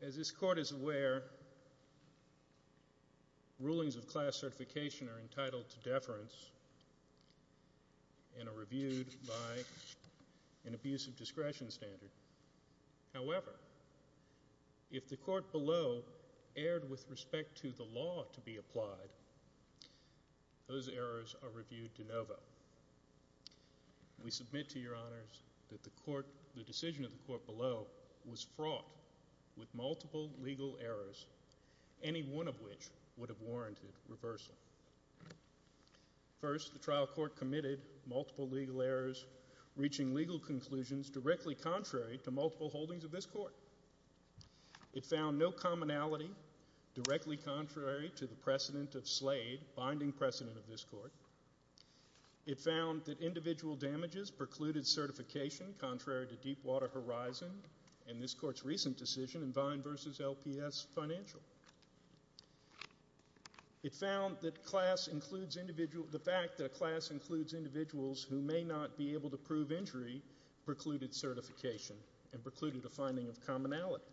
As this court is aware, rulings of class certification are entitled to deference and are reviewed by an abuse of discretion standard. However, if the court below erred with respect to the trial, those errors are reviewed de novo. We submit to your honors that the decision of the court below was fraught with multiple legal errors, any one of which would have warranted reversal. First, the trial court committed multiple legal errors, reaching legal conclusions directly contrary to multiple holdings of this court. It found no commonality directly contrary to the precedent of Slade, binding precedent of this court. It found that individual damages precluded certification contrary to Deepwater Horizon and this court's recent decision in Vine v. LPS Financial. It found that the fact that a class includes individuals who may not be able to prove injury precluded certification and precluded a finding of commonality.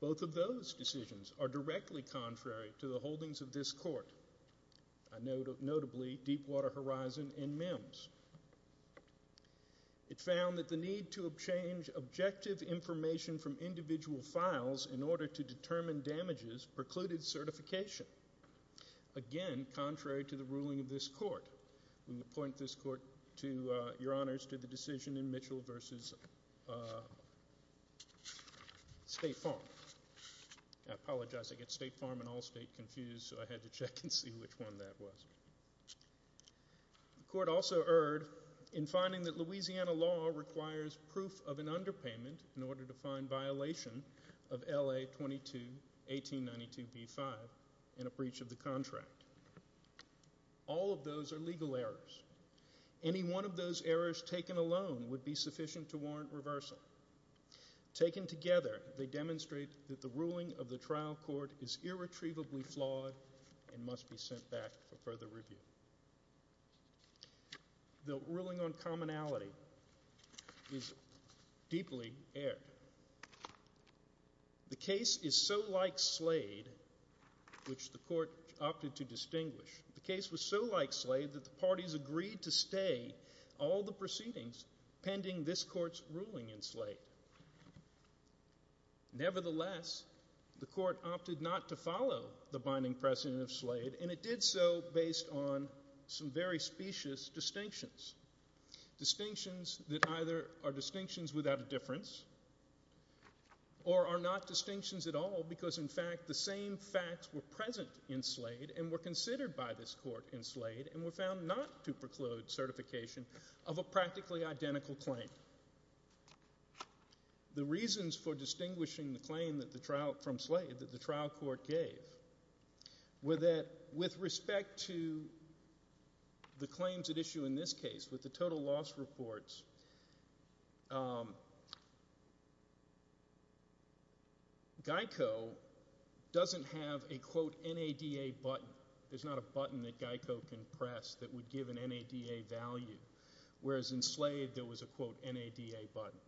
Both of those decisions are directly contrary to the holdings of this court, notably Deepwater Horizon and MIMS. It found that the need to change objective information from individual files in order to determine damages precluded certification, again contrary to the ruling of this court. We appoint this court to your honors to the State Farm. I apologize, I get State Farm and Allstate confused, so I had to check and see which one that was. The court also erred in finding that Louisiana law requires proof of an underpayment in order to find violation of LA-22-1892-B-5 in a breach of the contract. All of those are legal errors. Any one of those errors taken alone would be sufficient to warrant reversal. Taken together, they demonstrate that the ruling of the trial court is irretrievably flawed and must be sent back for further review. The ruling on commonality is deeply erred. The case is so like Slade, which the court opted to distinguish. The case was so like Slade that the parties agreed to stay all the proceedings pending this court's ruling in Slade. Nevertheless, the court opted not to follow the binding precedent of Slade, and it did so based on some very specious distinctions. Distinctions that either are distinctions without a difference or are not distinctions. The same facts were present in Slade and were considered by this court in Slade and were found not to preclude certification of a practically identical claim. The reasons for distinguishing the claim from Slade that the trial court gave were that with respect to the NADA button, there's not a button that Geico can press that would give an NADA value, whereas in Slade there was a quote NADA button.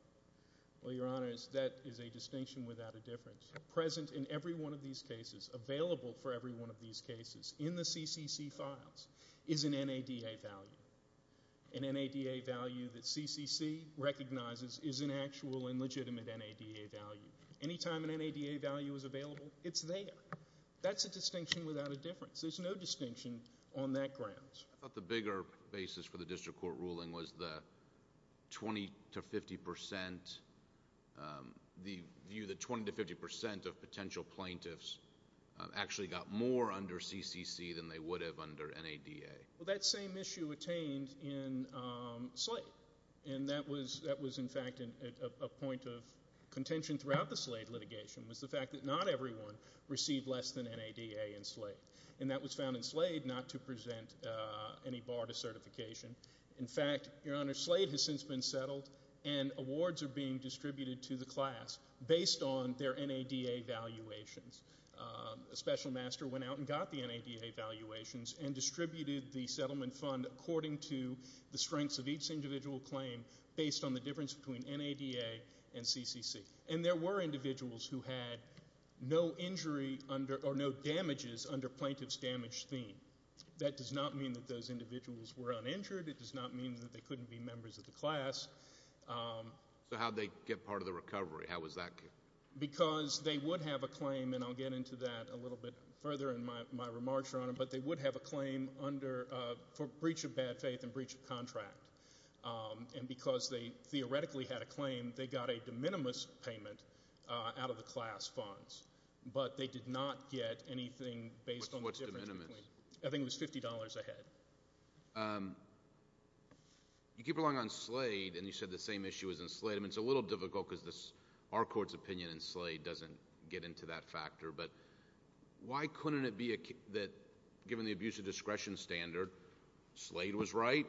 Well, your honors, that is a distinction without a difference. Present in every one of these cases, available for every one of these cases in the CCC files is an NADA value. An NADA value that CCC recognizes is an actual and legitimate NADA value. Anytime an NADA value is available, it's there. That's a distinction without a difference. There's no distinction on that ground. I thought the bigger basis for the district court ruling was the 20 to 50 percent, the view that 20 to 50 percent of potential plaintiffs actually got more under CCC than they would have under NADA. Well, that same issue attained in Slade, and that was in fact a point of contention throughout the Slade litigation was the fact that not everyone received less than NADA in Slade, and that was found in Slade not to present any bar to certification. In fact, your honors, Slade has since been settled and awards are being distributed to the class based on their NADA valuations. A special master went out and got the NADA valuations and distributed the NADA valuations based on, according to the strengths of each individual claim, based on the difference between NADA and CCC. And there were individuals who had no injury under, or no damages under plaintiff's damage theme. That does not mean that those individuals were uninjured. It does not mean that they couldn't be members of the class. So how did they get part of the recovery? How was that? Because they would have a claim, and I'll get into that a little bit further in my remarks, your honor, but they would have a claim under, for breach of bad faith and breach of contract. And because they theoretically had a claim, they got a de minimis payment out of the class funds, but they did not get anything based on the difference between. What's de minimis? I think it was $50 a head. You keep going on Slade, and you said the same issue was in Slade. I mean, it's a little difficult because our court's opinion in Slade doesn't get into that factor, but why couldn't it be that, given the abuse of discretion standard, Slade was right,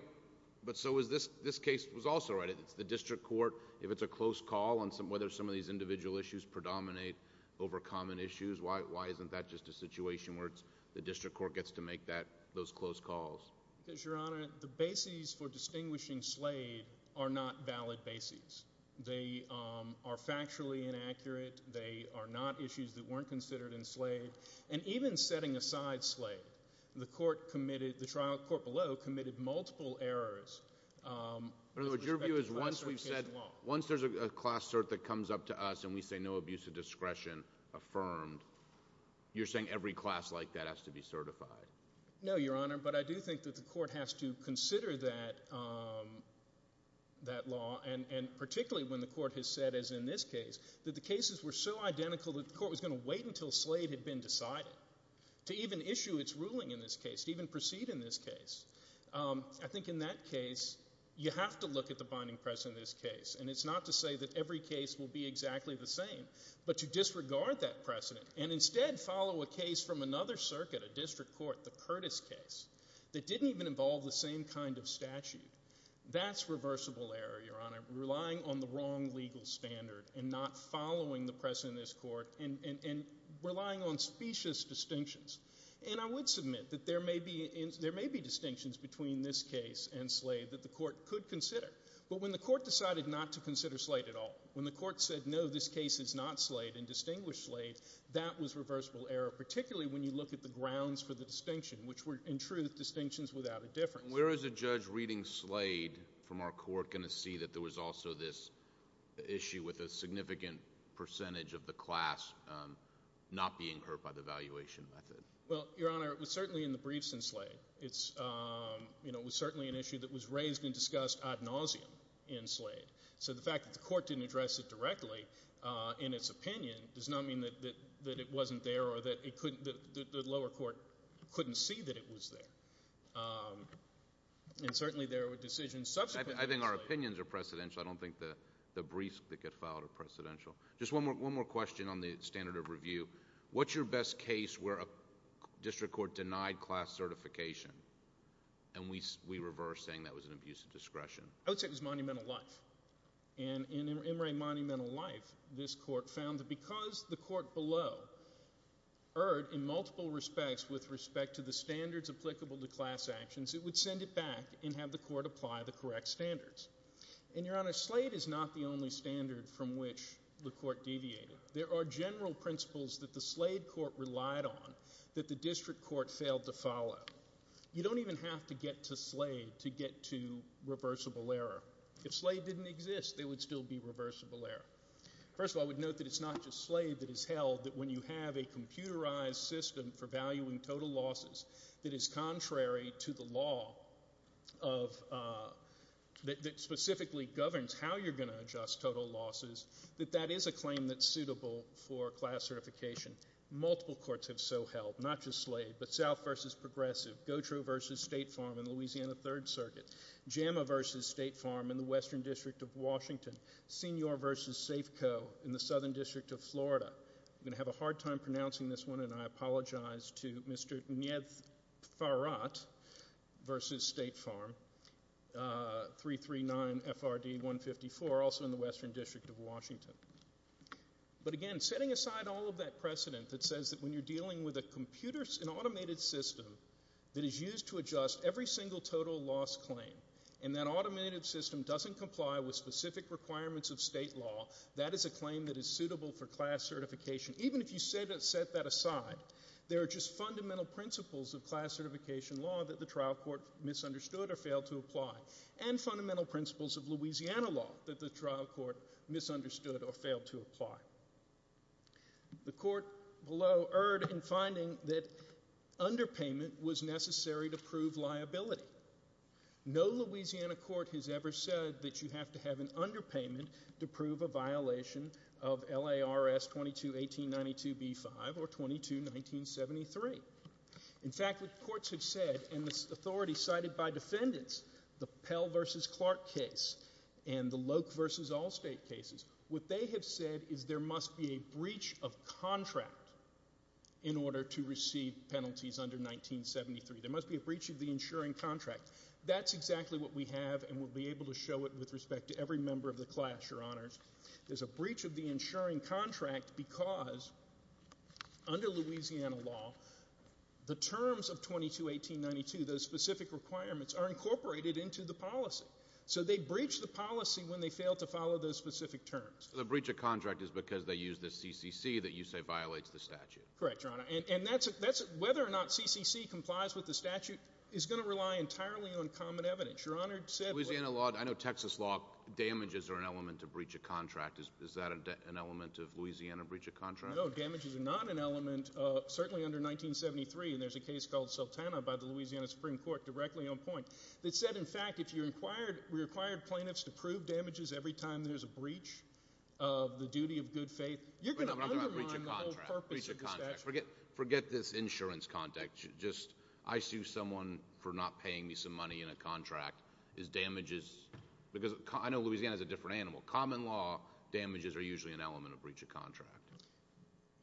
but so was this case was also right. If it's the district court, if it's a close call on whether some of these individual issues predominate over common issues, why isn't that just a situation where the district court gets to make those close calls? Because, your honor, the bases for distinguishing Slade are not valid bases. They are factually inaccurate. They are not issues that weren't considered in Slade. And even setting aside Slade, the trial court below committed multiple errors. Your view is once there's a class cert that comes up to us and we say no abuse of discretion affirmed, you're saying every class like that has to be certified? No, your honor, but I do think that the court has to consider that law, and particularly when the court has said, as in this case, that the cases were so identical that the court was going to wait until Slade had been decided to even issue its ruling in this case, to even proceed in this case. I think in that case, you have to look at the binding precedent of this case, and it's not to say that every case will be exactly the same, but to disregard that precedent and instead follow a case from another circuit, a district court, the Curtis case, that didn't even involve the same kind of statute. That's reversible error, your honor, because you're setting the wrong legal standard and not following the precedent in this court and relying on specious distinctions. And I would submit that there may be distinctions between this case and Slade that the court could consider, but when the court decided not to consider Slade at all, when the court said no, this case is not Slade and distinguished Slade, that was reversible error, particularly when you look at the grounds for the distinction, which were, in truth, distinctions without a difference. Where is a judge reading Slade from our court going to see that there was also this issue with a significant percentage of the class not being hurt by the valuation method? Well, your honor, it was certainly in the briefs in Slade. It was certainly an issue that was raised and discussed ad nauseum in Slade. So the fact that the court didn't address it directly in its opinion does not mean that it wasn't there or that the lower court couldn't see that it was there. And certainly there were decisions subsequently in Slade. I think our opinions are precedential. I don't think the briefs that get filed are precedential. Just one more question on the standard of review. What's your best case where a district court denied class certification and we reverse saying that was an abuse of discretion? I would say it was Monumental Life. And in M. Ray Monumental Life, this court found that because the court below erred in multiple respects with respect to the standards applicable to class actions, it would send it back and have the court apply the correct standards. And your honor, Slade is not the only standard from which the court deviated. There are general principles that the Slade court relied on that the district court failed to follow. You don't even have to get to Slade to get to reversible error. If Slade didn't exist, there would still be reversible error. First of all, I would note that it's not just Slade that is held that when you have a computerized system for valuing total losses that is contrary to the law that specifically governs how you're going to adjust total losses, that that is a claim that's suitable for class certification. Multiple courts have so held, not just Slade, but South versus Progressive, Gautreaux versus State Farm in the Louisiana Third Circuit, JAMA versus State Farm in the Western District of Washington, Senior versus Safeco in the Southern District of Florida. I'm going to have a hard time pronouncing this one and I apologize to Mr. Nefarat versus State Farm, 339 FRD 154 also in the Western District of Washington. But again, setting aside all of that precedent that says that when you're dealing with a computer, an automated system that is used to adjust every single total loss claim and that automated system doesn't comply with specific requirements of state law, that is a claim that is suitable for class certification. Even if you set that aside, there are just fundamental principles of class certification law that the trial court misunderstood or failed to apply and fundamental principles of Louisiana law that the trial court misunderstood or failed to apply. The court below erred in finding that underpayment was necessary to prove liability. No Louisiana court has ever said that you have to have an underpayment to prove a violation of L.A.R.S. 22-1892-B-5 or 22-1973. In fact, what courts have said and this authority cited by defendants, the Pell versus Clark case and the Loke versus Allstate cases, what they have said is there must be a breach of contract in order to receive penalties under 1973. There must be a breach of the insuring contract. That's exactly what we have and we'll be able to show it with respect to every member of the class, Your Honors. There's a breach of the insuring contract because under Louisiana law, the terms of 22-1892, those specific requirements, are incorporated into the policy. So they breach the policy when they fail to follow those specific terms. The breach of contract is because they use the CCC that you say violates the statute. Correct, Your Honor. Whether or not CCC complies with the statute is going to rely entirely on common evidence. Louisiana law, I know Texas law, damages are an element of breach of contract. Is that an element of Louisiana breach of contract? No, damages are not an element, certainly under 1973. There's a case called Sultana by the Louisiana Supreme Court directly on point that said, in fact, if you required plaintiffs to prove damages every time there's a breach of the duty of good faith, you're breaking the statute. Forget this insurance contract. I sue someone for not paying me some money in a contract. I know Louisiana is a different animal. Common law, damages are usually an element of breach of contract.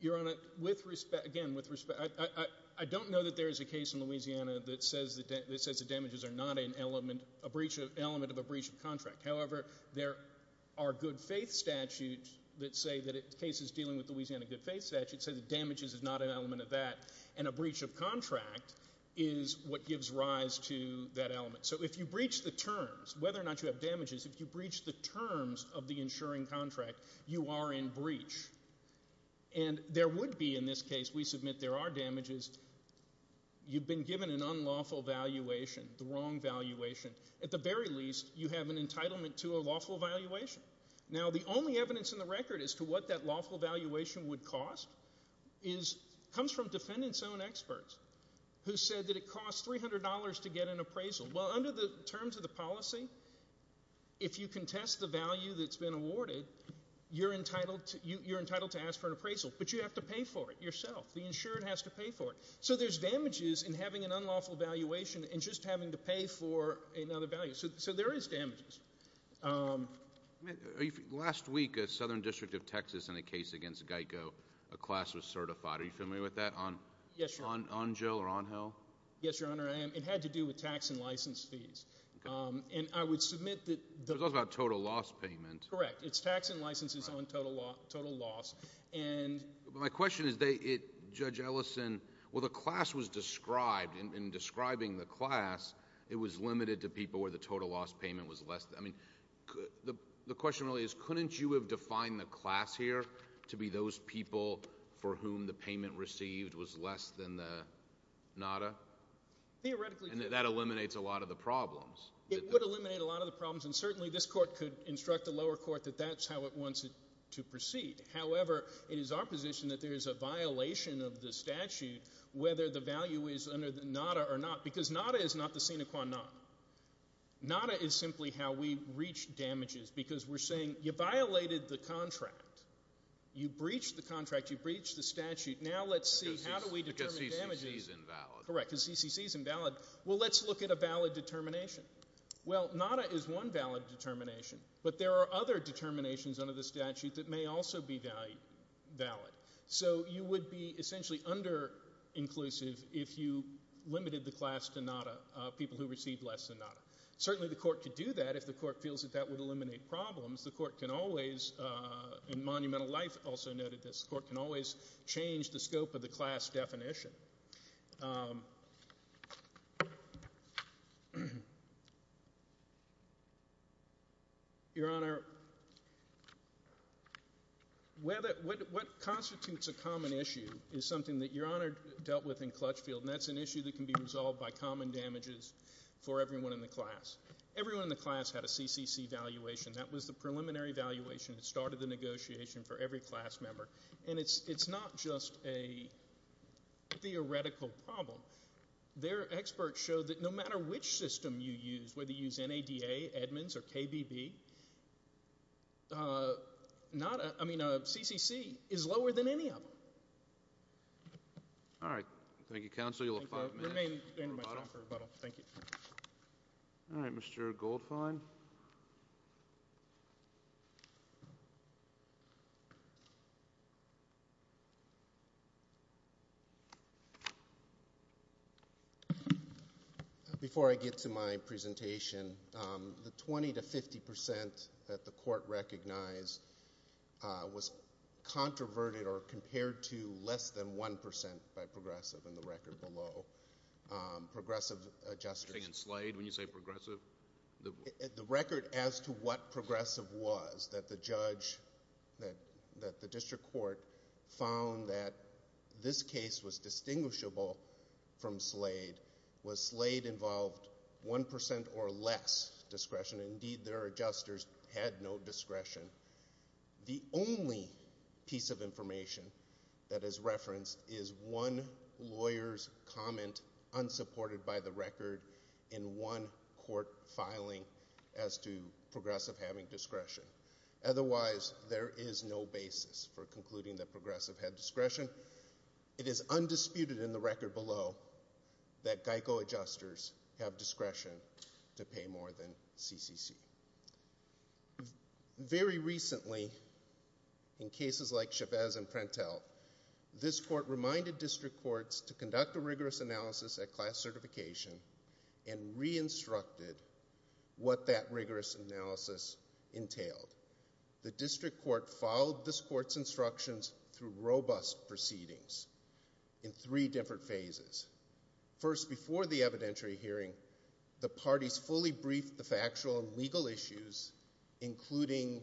Your Honor, again, I don't know that there is a case in Louisiana that says the damages are not an element of a breach of contract. However, there are good faith statutes that say that damages is not an element of that, and a breach of contract is what gives rise to that element. So if you breach the terms, whether or not you have damages, if you breach the terms of the insuring contract, you are in breach. And there would be, in this case, we submit there are damages. You've been given an unlawful valuation, the wrong valuation. At the very least, you have an entitlement to a lawful valuation. Now, the only evidence in the record as to what that lawful valuation would cost comes from defendant's own experts who said that it costs $300 to get an appraisal. Well, under the terms of the policy, if you contest the value that's been awarded, you're entitled to ask for an appraisal, but you have to pay for it yourself. The insurer has to pay for it. So there's damages in having an unlawful valuation and just having to pay for another value. So there is damages. Last week, a southern district of Texas in a case against Geico, a class was certified. Are you familiar with that? Yes, Your Honor. On Jill or on Hill? Yes, Your Honor, I am. It had to do with tax and license fees. Okay. And I would submit that the It was also about total loss payment. Correct. It's tax and license is on total loss. My question is, Judge Ellison, well, the class was described. In describing the class, it was limited to people where the total loss payment was less. I mean, the question really is, couldn't you have defined the class here to be those people for whom the payment received was less than the NADA? Theoretically, And that eliminates a lot of the problems. It would eliminate a lot of the problems, and certainly this court could instruct the lower court that that's how it wants it to proceed. However, it is our position that there is a violation of the statute, whether the value is under the NADA or not, because NADA is not the sine qua non. NADA is simply how we reach damages, because we're saying you violated the contract. You breached the contract. You breached the statute. Now let's see how do we determine damages. Because CCC is invalid. Correct, because CCC is invalid. Well, let's look at a valid determination. Well, NADA is one valid determination, but there are other determinations under the statute that may also be valid. So you would be essentially under-inclusive if you limited the class to people who received less than NADA. Certainly the court could do that if the court feels that that would eliminate problems. The court can always, in Monumental Life also noted this, the court can always change the scope of the class definition. Your Honor, what constitutes a common issue is something that Your Honor dealt with in for everyone in the class. Everyone in the class had a CCC valuation. That was the preliminary valuation that started the negotiation for every class member. And it's not just a theoretical problem. Their experts showed that no matter which system you use, whether you use NADA, Edmonds, or KBB, CCC is lower than any of them. All right. Thank you, Counsel. You'll have five minutes. Thank you. All right, Mr. Goldfein. Before I get to my presentation, the 20 to 50 percent that the court recognized was controverted or compared to less than 1 percent by progressive in the record below. Progressive adjusters. You're saying in Slade when you say progressive? The record as to what progressive was that the judge, that the district court found that this case was distinguishable from Slade was Slade involved 1 percent or less discretion. Indeed, their adjusters had no discretion. The only piece of information that is referenced is one lawyer's comment unsupported by the record in one court filing as to progressive having discretion. Otherwise, there is no basis for concluding that progressive had discretion. It is undisputed in the record below that GEICO adjusters have discretion to pay more than CCC. Very recently, in cases like Chavez and Prentel, this court reminded district courts to conduct a rigorous analysis at class certification and re-instructed what that rigorous analysis entailed. The district court followed this court's instructions through robust proceedings in three different phases. First, before the evidentiary hearing, the parties fully briefed the factual and legal issues, including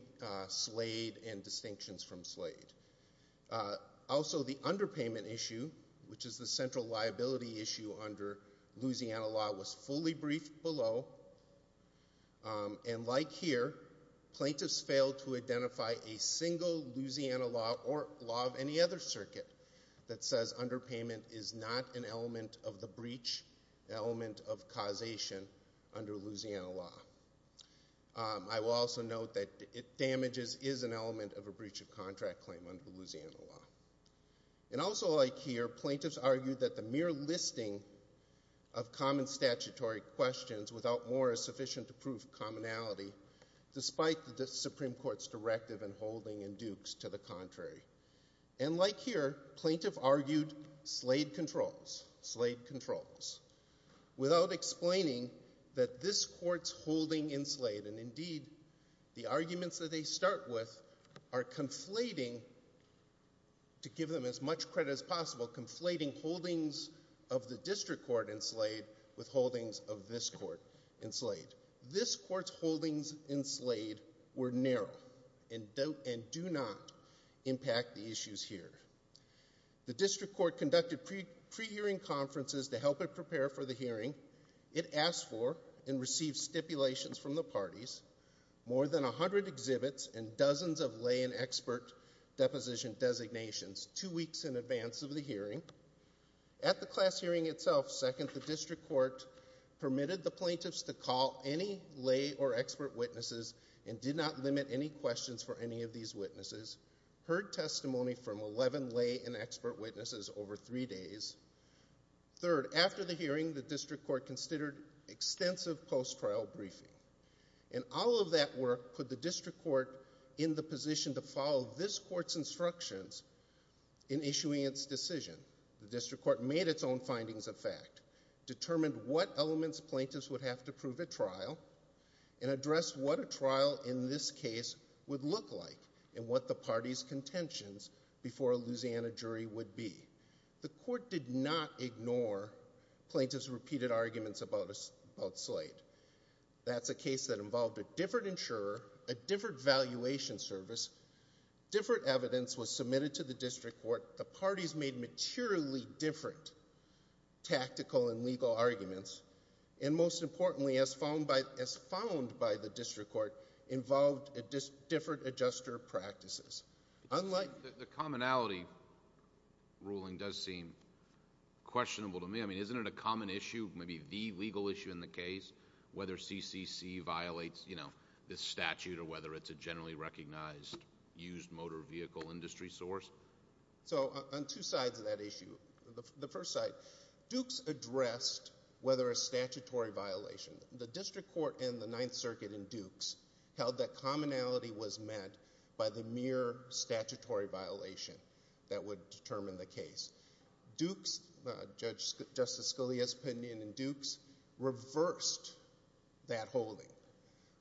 Slade and distinctions from Slade. Also, the underpayment issue, which is the central liability issue under Louisiana law, was fully briefed below. Like here, plaintiffs failed to identify a single Louisiana law or law of any other circuit that says underpayment is not an element of the breach element of causation under Louisiana law. I will also note that damages is an element of a breach of contract claim under Louisiana law. Also, like here, plaintiffs argued that the mere listing of common statutory questions without more is sufficient to prove commonality, despite the Supreme Court's directive in holding in Dukes to the contrary. And like here, plaintiffs argued Slade controls, Slade controls, without explaining that this court's holding in Slade, and indeed, the arguments that they start with, are conflating, to give them as much credit as possible, conflating holdings of the district court in Slade with holdings of this court in Slade. This court's holdings in Slade were narrow and do not impact the issues here. The district court conducted pre-hearing conferences to help it prepare for the hearing. It asked for and received stipulations from the parties, more than 100 exhibits, and dozens of lay and expert deposition designations two weeks in advance of the hearing. At the class hearing, itself, second, the district court permitted the plaintiffs to call any lay or expert witnesses and did not limit any questions for any of these witnesses, heard testimony from 11 lay and expert witnesses over three days. Third, after the hearing, the district court considered extensive post-trial briefing. And all of that work put the district court in the position to follow this court's instructions in issuing its decision. The district court made its own findings of fact, determined what elements plaintiffs would have to prove at trial, and addressed what a trial in this case would look like and what the party's contentions before a Louisiana jury would be. The court did not ignore plaintiffs' repeated arguments about Slade. That's a case that involved a different insurer, a different valuation service, different evidence was submitted to the district court, the parties made materially different tactical and legal arguments, and most importantly, as found by the district court, involved different adjuster practices. Unlike... The commonality ruling does seem questionable to me. I mean, isn't it a common issue, maybe the legal issue in the case, whether CCC violates, you know, this statute or whether it's a generally recognized used motor vehicle industry source? So, on two sides of that issue. The first side, Dukes addressed whether a statutory violation, the district court and the Ninth Circuit in Dukes held that commonality was met by the mere statutory violation that would determine the case. Dukes, Judge Justice Scalia's opinion in Dukes reversed that holding.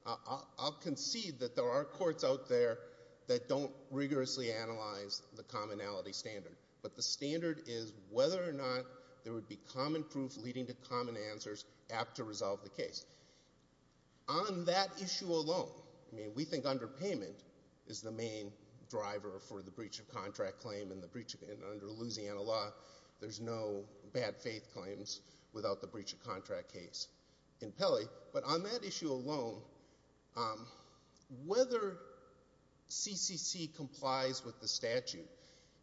I'll concede that there are courts out there that don't rigorously analyze the commonality standard, but the standard is whether or not there would be common proof leading to common answers apt to resolve the case. On that issue alone, I mean, we think underpayment is the main driver for the breach of contract claim and under Louisiana law, there's no bad faith claims without the breach of contract case in Pelley, but on that issue alone, whether CCC complies with the statute,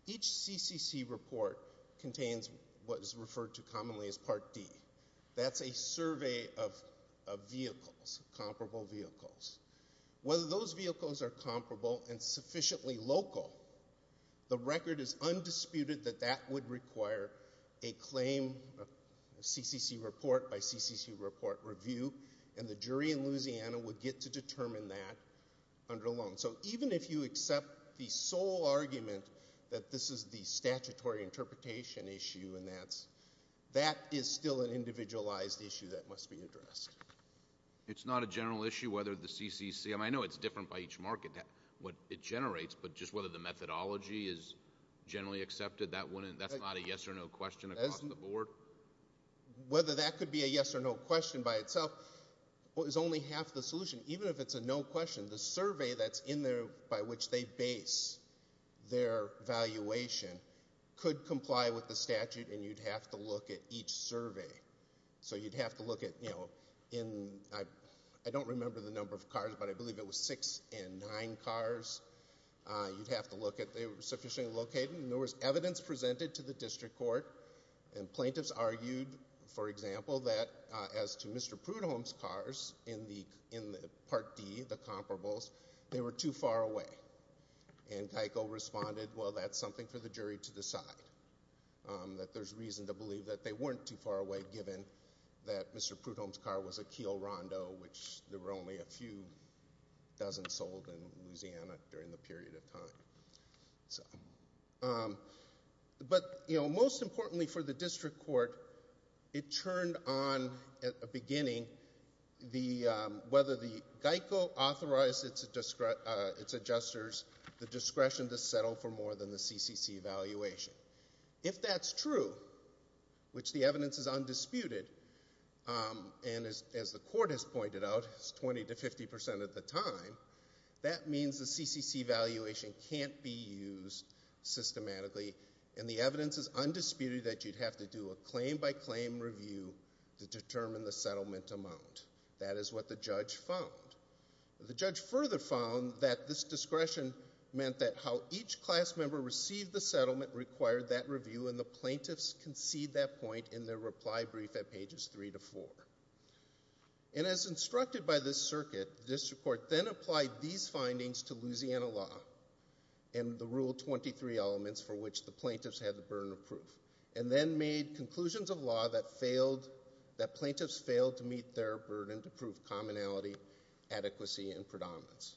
each CCC report contains what is referred to commonly as Part D. That's a survey of vehicles, comparable vehicles. Whether those vehicles are comparable and sufficiently local, the record is undisputed that that would require a claim, a CCC report by CCC report review, and the jury in Louisiana would get to determine that under loan. So, even if you accept the sole argument that this is the statutory interpretation issue and that is still an individualized issue that must be addressed. It's not a general issue whether the CCC, I mean, I know it's different by each market, what it generates, but just whether the methodology is generally accepted, that's not a yes or no question across the board? Whether that could be a yes or no question by itself is only half the solution. Even if it's a no question, the survey that's in there by which they base their valuation could comply with the statute and you'd have to look at each survey. So, you'd have to look at, you know, in, I don't remember the number of cars, but I believe it was six and nine cars. You'd have to look at, they were sufficiently located, and there was evidence presented to the district court, and plaintiffs argued, for example, that as to Mr. Prudhomme's cars in the Part D, the comparables, they were too far away. And Keiko responded, well, that's something for the district court's reason to believe, that they weren't too far away, given that Mr. Prudhomme's car was a Keil Rondo, which there were only a few dozen sold in Louisiana during the period of time. But, you know, most importantly for the district court, it turned on at the beginning whether the Keiko authorized its adjusters the discretion to settle for more than the CCC valuation. If that's true, which the evidence is undisputed, and as the court has pointed out, it's 20 to 50% of the time, that means the CCC valuation can't be used systematically, and the evidence is undisputed that you'd have to do a claim by claim review to determine the settlement amount. That is what the judge found. The judge further found that this discretion meant that how each class member received the settlement required that review, and the plaintiffs concede that point in their reply brief at pages three to four. And as instructed by this circuit, the district court then applied these findings to Louisiana law, and the Rule 23 elements for which the plaintiffs had the burden of proof, and then made conclusions of law that failed, that plaintiffs failed to meet their burden to prove commonality, adequacy, and predominance.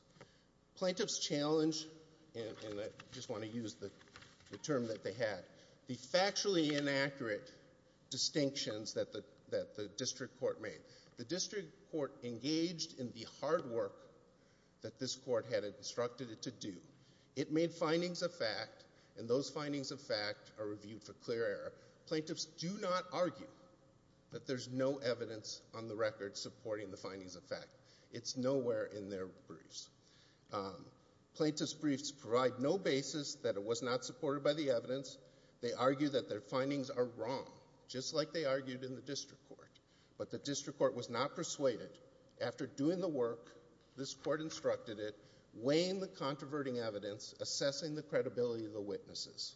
Plaintiffs challenged, and I just want to use the term that they had, the factually inaccurate distinctions that the district court made. The district court engaged in the hard work that this court had instructed it to do. It made findings of fact, and those findings of fact are reviewed for clear error. Plaintiffs do not argue that there's no evidence on the record supporting the findings of fact. It's nowhere in their briefs. Plaintiffs' briefs provide no basis that it was not supported by the evidence. They argue that their findings are wrong, just like they argued in the district court. But the district court was not persuaded. After doing the work, this court instructed it, weighing the controverting evidence, assessing the credibility of the witnesses.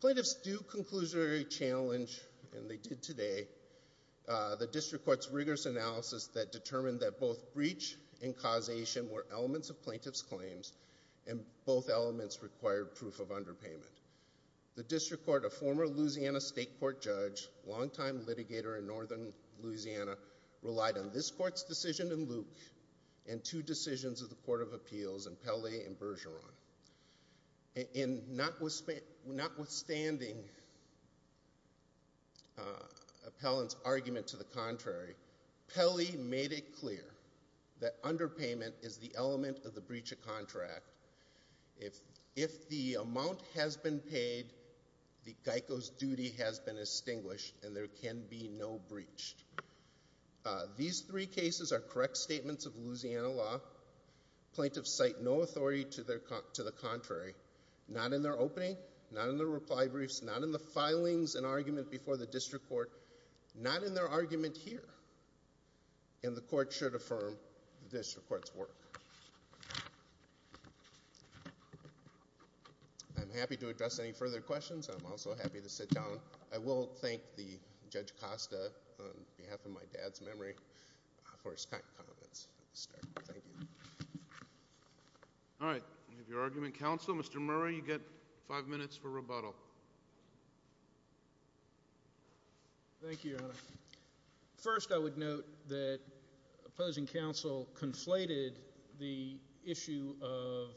Plaintiffs do conclusionary challenge, and they did today, the district court's rigorous analysis that determined that both breach and causation were elements of plaintiff's claims, and both elements required proof of underpayment. The district court, a former Louisiana state court judge, longtime litigator in northern Louisiana, relied on this court's decision in Luke and two decisions of the Court of Appeals in Pelley and Bergeron. Notwithstanding appellant's argument to the contrary, Pelley made it clear that underpayment is the element of the breach of contract. If the amount has been paid, the GEICO's duty has been extinguished, and there can be no breach. These three cases are correct statements of Louisiana law. Plaintiffs cite no authority to the contrary. Not in their opening, not in their reply briefs, not in the filings and argument before the district court, not in their argument here. And the court should affirm the district court's work. I'm happy to address any further questions. I'm also happy to sit down. I will thank the Judge Costa, on behalf of my dad's memory, for his kind comments at the start. Thank you. All right. We have your argument. Counsel, Mr. Murray, you get five minutes for rebuttal. Thank you, Your Honor. First, I would note that opposing counsel conflated the issue of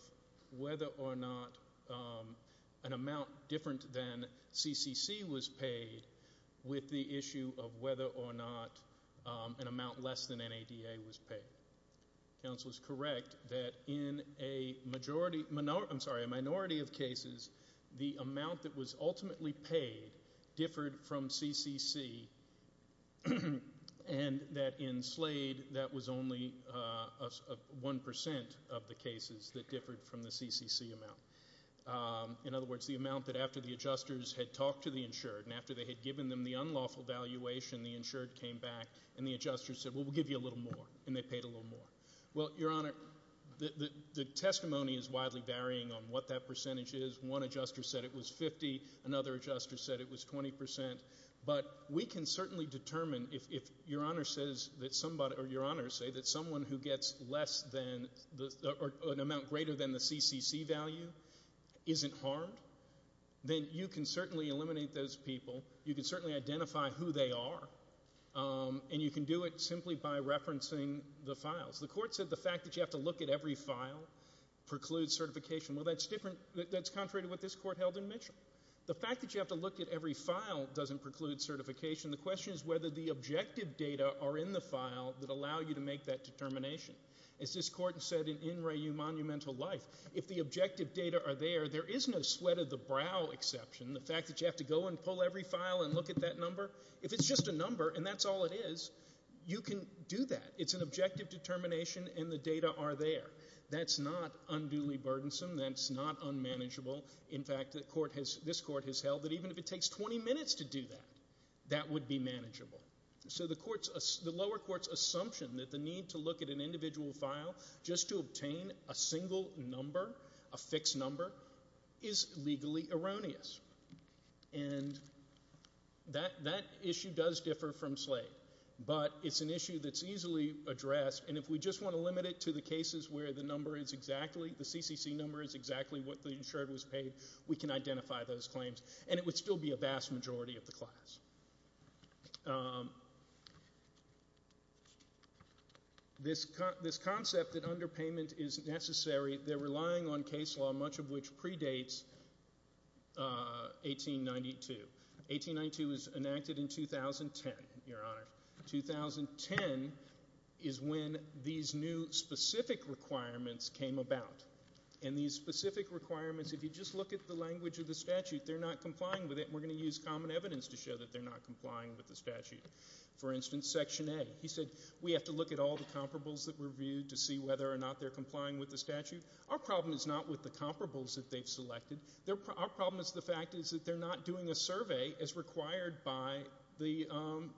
whether or not an amount different than CCC was paid with the issue of whether or not an amount less than NADA was paid. Counsel is correct that in a minority of cases, the amount that was ultimately paid differed from CCC, and that in Slade, that was only 1% of the cases that In other words, the amount that after the adjusters had talked to the insured and after they had given them the unlawful valuation, the insured came back and the adjusters said, Well, we'll give you a little more, and they paid a little more. Well, Your Honor, the testimony is widely varying on what that percentage is. One adjuster said it was 50. Another adjuster said it was 20%. But we can certainly determine if Your Honor says that somebody or Your Honor say that someone who gets less than or an amount greater than the CCC value isn't harmed, then you can certainly eliminate those people. You can certainly identify who they are, and you can do it simply by referencing the files. The Court said the fact that you have to look at every file precludes certification. Well, that's different. That's contrary to what this Court held in Mitchell. The fact that you have to look at every file doesn't preclude certification. The question is whether the objective data are in the file that allow you to make that determination. As this Court said in In Re U Monumental Life, if the objective data are there, there is no sweat of the brow exception. The fact that you have to go and pull every file and look at that number, if it's just a number and that's all it is, you can do that. It's an objective determination and the data are there. That's not unduly burdensome. That's not unmanageable. In fact, this Court has held that even if it takes 20 minutes to do that, that would be manageable. So the lower court's assumption that the need to look at an individual file just to obtain a single number, a fixed number, is legally erroneous. And that issue does differ from Slade, but it's an issue that's easily addressed, and if we just want to limit it to the cases where the number is exactly, the CCC number is exactly what the insured was paid, we can identify those claims, and it would still be a vast majority of the class. This concept that underpayment is necessary, they're relying on case law, much of which predates 1892. 1892 was enacted in 2010, Your Honor. 2010 is when these new specific requirements came about, and these specific requirements, if you just look at the language of the statute, they're not complying with it, and we're going to use common evidence to show that they're not complying with the statute. For instance, Section A, he said, we have to look at all the comparables that were reviewed to see whether or not they're complying with the statute. Our problem is not with the comparables that they've selected. Our problem is the fact that they're not doing a survey as required by the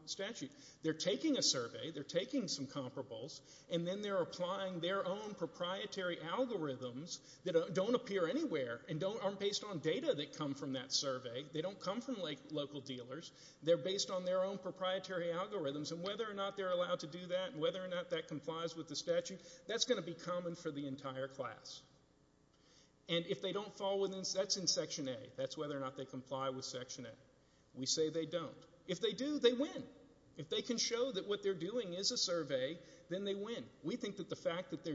statute. They're taking a survey, they're taking some comparables, and then they're applying their own proprietary algorithms that don't appear anywhere and aren't based on data that come from that survey. They don't come from local dealers. They're based on their own proprietary algorithms, and whether or not they're allowed to do that and whether or not that complies with the statute, that's going to be common for the entire class. And if they don't fall within, that's in Section A. That's whether or not they comply with Section A. We say they don't. If they do, they win. If they can show that what they're doing is a survey, then they win. We think that the fact that they're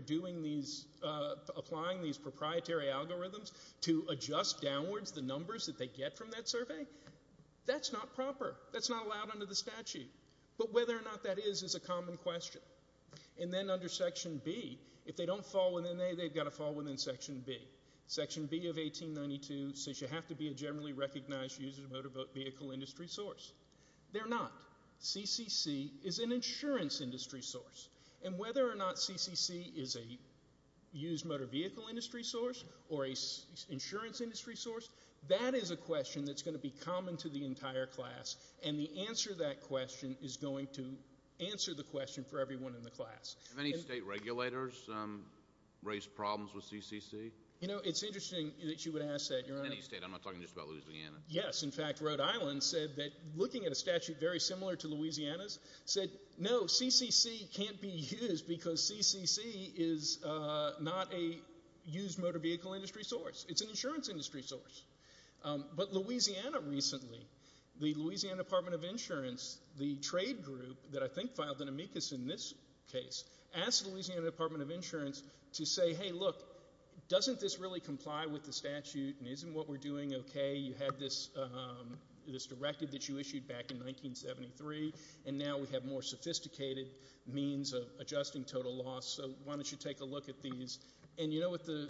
applying these proprietary algorithms to adjust downwards the numbers that they get from that survey, that's not proper. That's not allowed under the statute. But whether or not that is is a common question. And then under Section B, if they don't fall within A, they've got to fall within Section B. Section B of 1892 says you have to be a generally recognized user motor vehicle industry source. They're not. CCC is an insurance industry source. And whether or not CCC is a used motor vehicle industry source or an insurance industry source, that is a question that's going to be common to the entire class. And the answer to that question is going to answer the question for everyone in the class. Have any state regulators raised problems with CCC? You know, it's interesting that you would ask that. I'm not talking just about Louisiana. Yes. In fact, Rhode Island said that looking at a statute very similar to Louisiana's said, no, CCC can't be used because CCC is not a used motor vehicle industry source. It's an insurance industry source. But Louisiana recently, the Louisiana Department of Insurance, the trade group that I think filed an amicus in this case, asked the Louisiana Department of Insurance to say, hey, look, doesn't this really comply with the statute and isn't what we're doing okay? You had this directive that you issued back in 1973, and now we have more sophisticated means of adjusting total loss. So why don't you take a look at these? And you know what the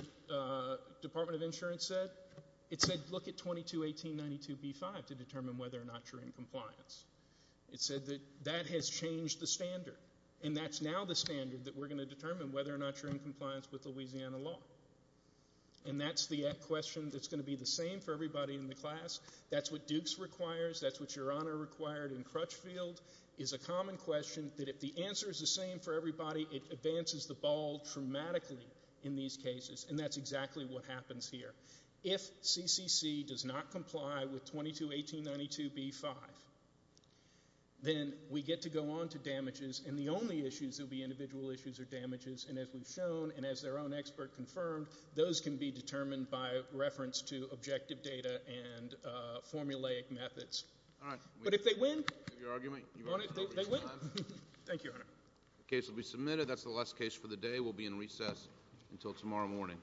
Department of Insurance said? It said look at 221892B5 to determine whether or not you're in compliance. It said that that has changed the standard, and that's now the standard that we're going to determine whether or not you're in compliance with Louisiana law. And that's the question that's going to be the same for everybody in the class. That's what Dukes requires. That's what Your Honor required in Crutchfield. It's a common question that if the answer is the same for everybody, it advances the ball dramatically in these cases, and that's exactly what happens here. If CCC does not comply with 221892B5, then we get to go on to damages, and the only issues that will be individual issues are damages. And as we've shown and as their own expert confirmed, those can be determined by reference to objective data and formulaic methods. But if they win, they win. Thank you, Your Honor. The case will be submitted. That's the last case for the day. We'll be in recess until tomorrow morning.